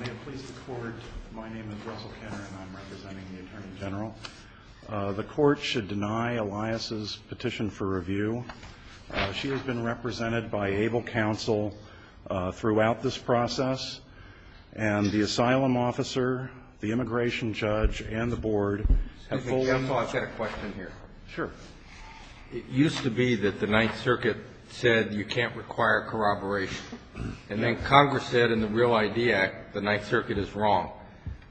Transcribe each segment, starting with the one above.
May it please the Court, my name is Russell Kenner and I'm representing the Attorney General. The Court should deny Elias' petition for review. She has been represented by ABLE Counsel throughout this process and the Asylum Officer, the Immigration Judge, and the Board have fully Excuse me, counsel, I've got a question here. Sure. It used to be that the Ninth Circuit said you can't require corroboration and then Congress said in the Real ID Act the Ninth Circuit is wrong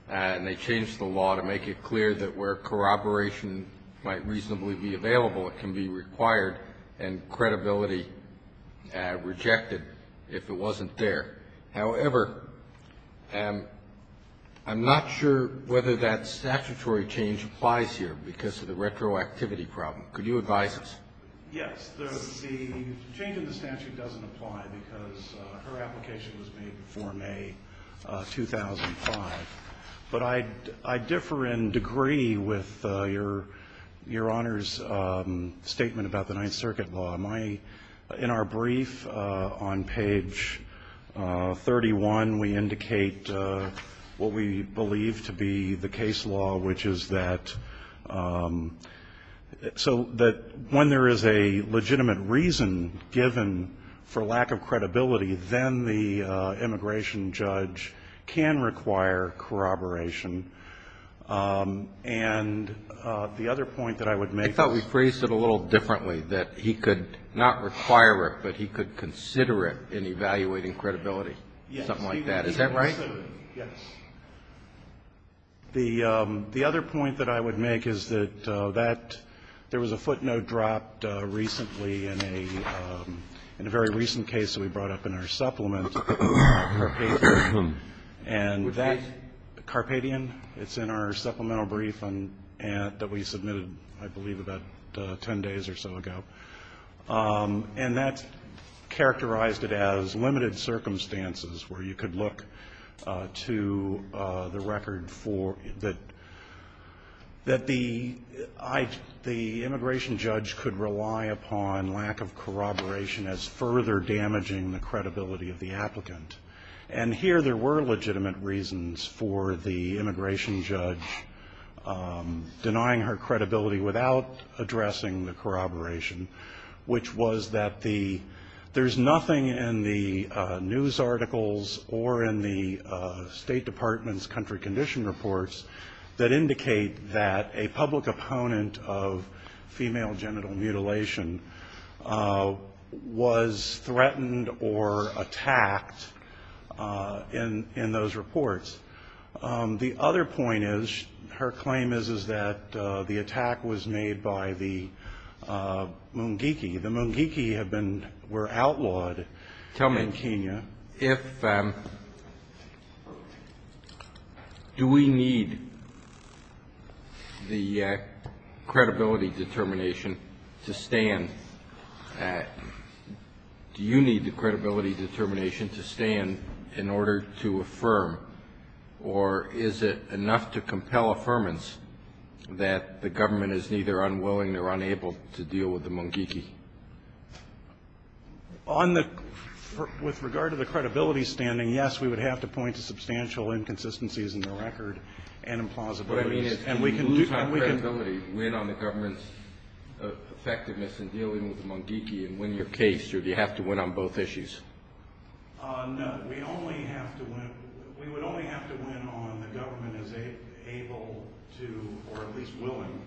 and they changed the law to make it clear that where corroboration might reasonably be available it can be required and credibility rejected if it wasn't there. However, I'm not sure whether that statutory change applies here because of the retroactivity problem. Could you advise us? Yes. The change in the statute doesn't apply because her application was made before May 2005. But I differ in degree with Your Honor's statement about the Ninth Circuit law. In our brief on page 31, we indicate what we believe to be the case law, which is that when there is a legitimate reason given for lack of credibility then the Immigration Judge can require corroboration. And the other point that I would make is I thought we phrased it a little differently, that he could not require it, but he could consider it in evaluating credibility, something like that. Is that right? Yes. The other point that I would make is that there was a footnote dropped recently in a very recent case that we brought up in our supplement. And that Carpadian, it's in our supplemental brief that we submitted, I believe, about 10 days or so ago. And that characterized it as limited circumstances where you could look to the record for that the Immigration Judge could rely upon lack of corroboration as further damaging the credibility of the applicant. And here there were legitimate reasons for the Immigration Judge denying her credibility without addressing the corroboration, which was that there's nothing in the news articles or in the State Department's country condition reports that indicate that a public opponent of female genital mutilation was threatened or attacked in those reports. The other point is her claim is that the attack was made by the Mungiki. The Mungiki were outlawed in Kenya. Do we need the credibility determination to stand in order to affirm, or is it enough to compel affirmance that the government is neither unwilling nor unable to deal with the Mungiki? On the – with regard to the credibility standing, yes, we would have to point to substantial inconsistencies in the record and implausibilities. What I mean is, can we lose our credibility, win on the government's effectiveness in dealing with the Mungiki and win your case, or do you have to win on both issues? No, we only have to win – we would only have to win on the government as able to, or at least willing,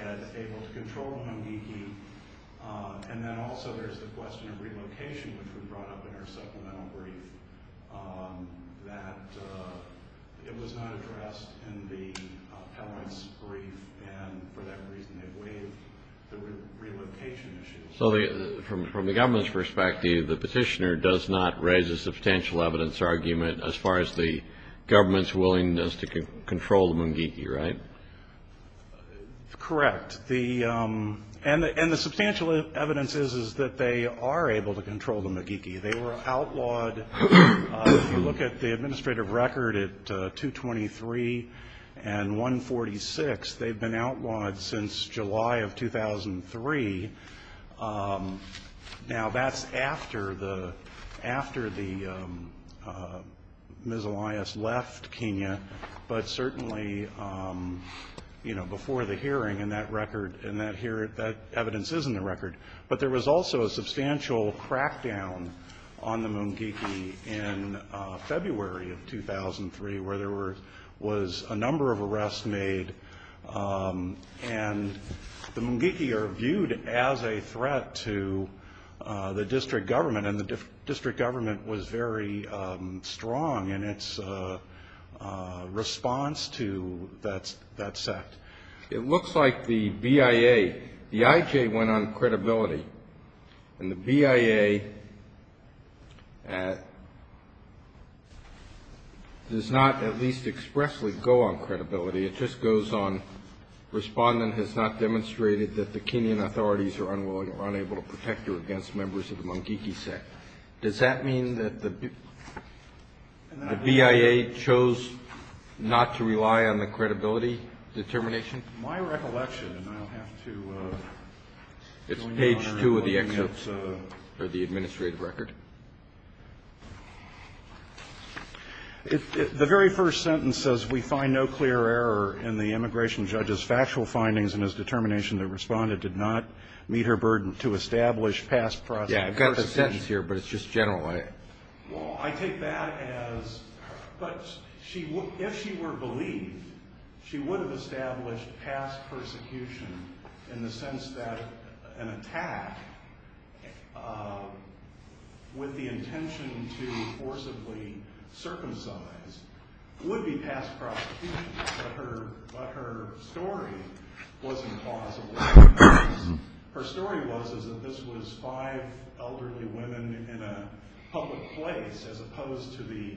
as able to control the Mungiki. And then also there's the question of relocation, which we brought up in our supplemental brief, that it was not addressed in the appellant's brief, and for that reason they waived the relocation issue. So from the government's perspective, the petitioner does not raise a substantial evidence argument as far as the government's willingness to control the Mungiki, right? Correct. And the substantial evidence is that they are able to control the Mungiki. They were outlawed – if you look at the administrative record at 223 and 146, they've been outlawed since July of 2003. Now, that's after the – after the miscellaneous left Kenya, but certainly before the hearing, and that evidence is in the record. But there was also a substantial crackdown on the Mungiki in February of 2003, where there was a number of arrests made, and the Mungiki are viewed as a threat to the district government, and the district government was very strong in its response to that sect. It looks like the BIA – the IJ went on credibility, and the BIA does not at least expressly go on credibility. It just goes on, respondent has not demonstrated that the Kenyan authorities are unwilling or unable to protect against members of the Mungiki sect. Does that mean that the BIA chose not to rely on the credibility determination? My recollection, and I'll have to – It's page 2 of the administrative record. The very first sentence says, we find no clear error in the immigration judge's past prosecution. If she were believed, she would have established past persecution in the sense that an attack with the intention to forcibly circumcise would be past prosecution, but her story wasn't plausible. Her story was that this was five elderly women in a public place, as opposed to the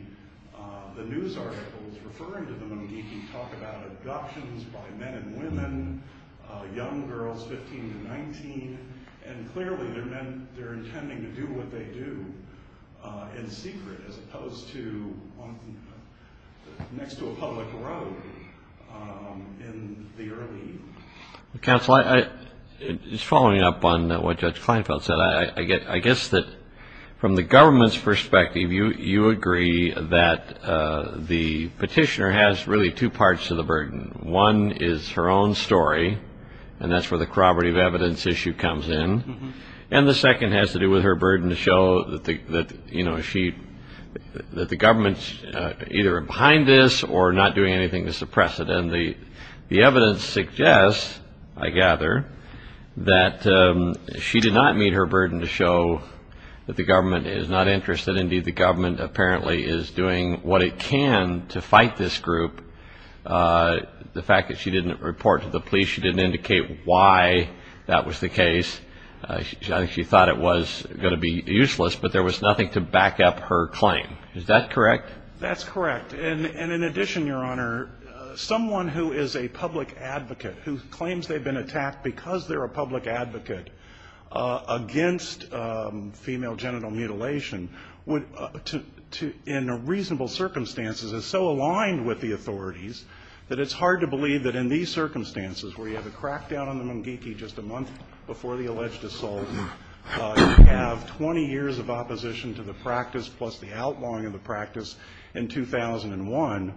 news articles referring to the Mungiki talk about abductions by men and women, young girls 15 to 19, and clearly they're intending to do what they do in secret, as opposed to next to a public road in the early evening. Counsel, just following up on what Judge Kleinfeld said, I guess that from the government's perspective, you agree that the petitioner has really two parts to the burden. One is her own story, and that's where the corroborative evidence issue comes in, and the second has to do with her saying that the government's either behind this or not doing anything to suppress it. And the evidence suggests, I gather, that she did not meet her burden to show that the government is not interested. Indeed, the government apparently is doing what it can to fight this group. The fact that she didn't report to the police, she didn't indicate why that was the case. She thought it was going to be useless, but there was nothing to back up her claim. Is that correct? That's correct. And in addition, Your Honor, someone who is a public advocate, who claims they've been attacked because they're a public advocate against female genital mutilation, in reasonable circumstances is so aligned with the authorities that it's hard to believe that in these circumstances, where you have a crackdown on the mungiki just a month before the alleged assault, you have 20 years of opposition to the practice plus the outlawing of the practice in 2001,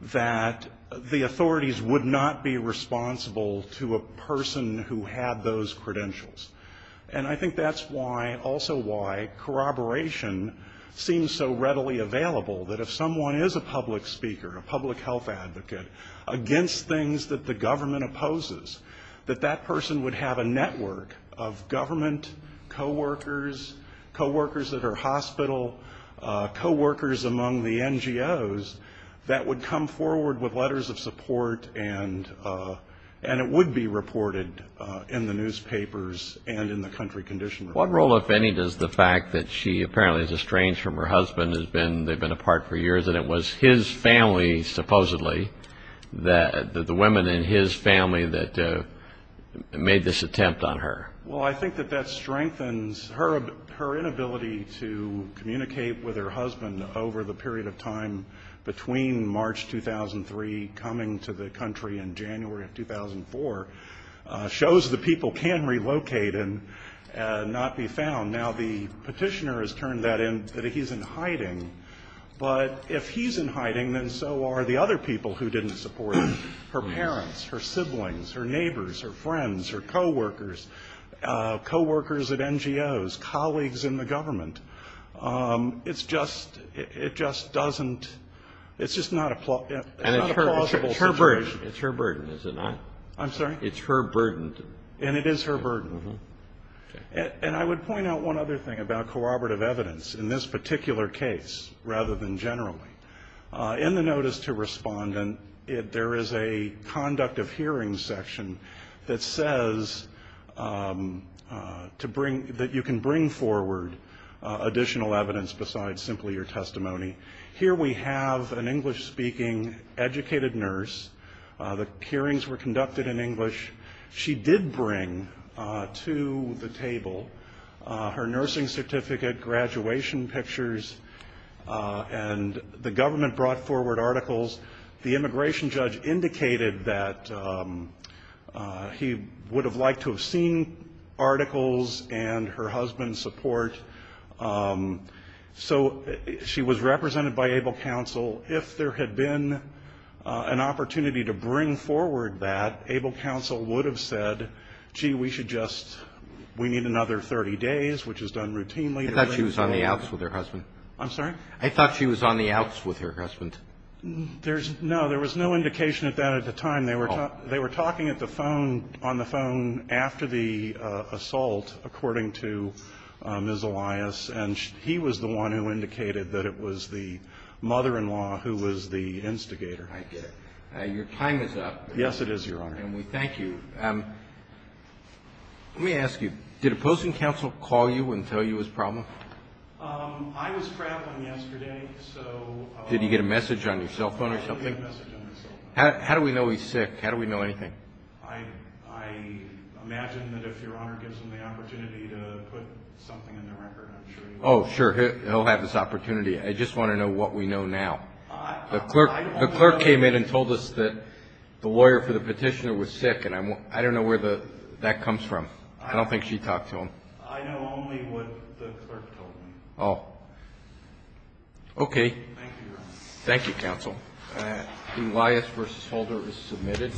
that the authorities would not be responsible to a person who had those credentials. And I think that's why, also why, corroboration seems so readily available, that if someone is a public speaker, a public health advocate, against things that the government opposes, that that person would have a network of government coworkers, coworkers at her hospital, coworkers among the NGOs, that would come forward with letters of support and it would be reported in the newspapers and in the country condition report. What role, if any, does the fact that she apparently is estranged from her husband, they've been apart for years, and it was his family, supposedly, the women in his family that made this attempt on her? Well, I think that that strengthens her inability to communicate with her husband over the period of time between March 2003, coming to the country in January of 2004, shows the people can relocate and not be found. Now, the petitioner has turned that in, that he's in hiding. But if he's in hiding, then so are the other people who didn't support her. Her parents, her siblings, her neighbors, her friends, her coworkers, coworkers at NGOs, colleagues in the government. It's just her burden. And I would point out one other thing about corroborative evidence in this particular case, rather than generally. In the notice to respondent, there is a conduct of hearing section that says that you can bring forward additional evidence besides simply your testimony. Here we have an English-speaking, educated nurse. The hearings were conducted in English. She did bring to the table her nursing certificate, graduation pictures, and the government brought forward articles. The immigration judge indicated that he would have liked to have seen articles and her husband's support. So she was represented by Abel Counsel. If there had been an opportunity to bring forward that, Abel Counsel would have said, gee, we should just, we need another 30 days, which is done routinely. I thought she was on the outs with her husband. No, there was no indication of that at the time. They were talking on the phone after the assault, according to Ms. Elias, and he was the one who indicated that it was the mother-in-law who was the instigator. I get it. Your time is up. Yes, it is, Your Honor. Thank you. Let me ask you, did opposing counsel call you and tell you his problem? I was traveling yesterday, so Did he get a message on your cell phone or something? How do we know he's sick? How do we know anything? I imagine that if Your Honor gives him the opportunity to put something in the record, I'm sure he will. Oh, sure, he'll have this opportunity. I just want to know what we know now. The clerk came in and told us that the lawyer for the petitioner was sick, and I don't know where that comes from. I don't think she talked to him. I know only what the clerk told me. Oh, okay. Thank you, Your Honor. Thank you, counsel. Elias v. Holder is submitted.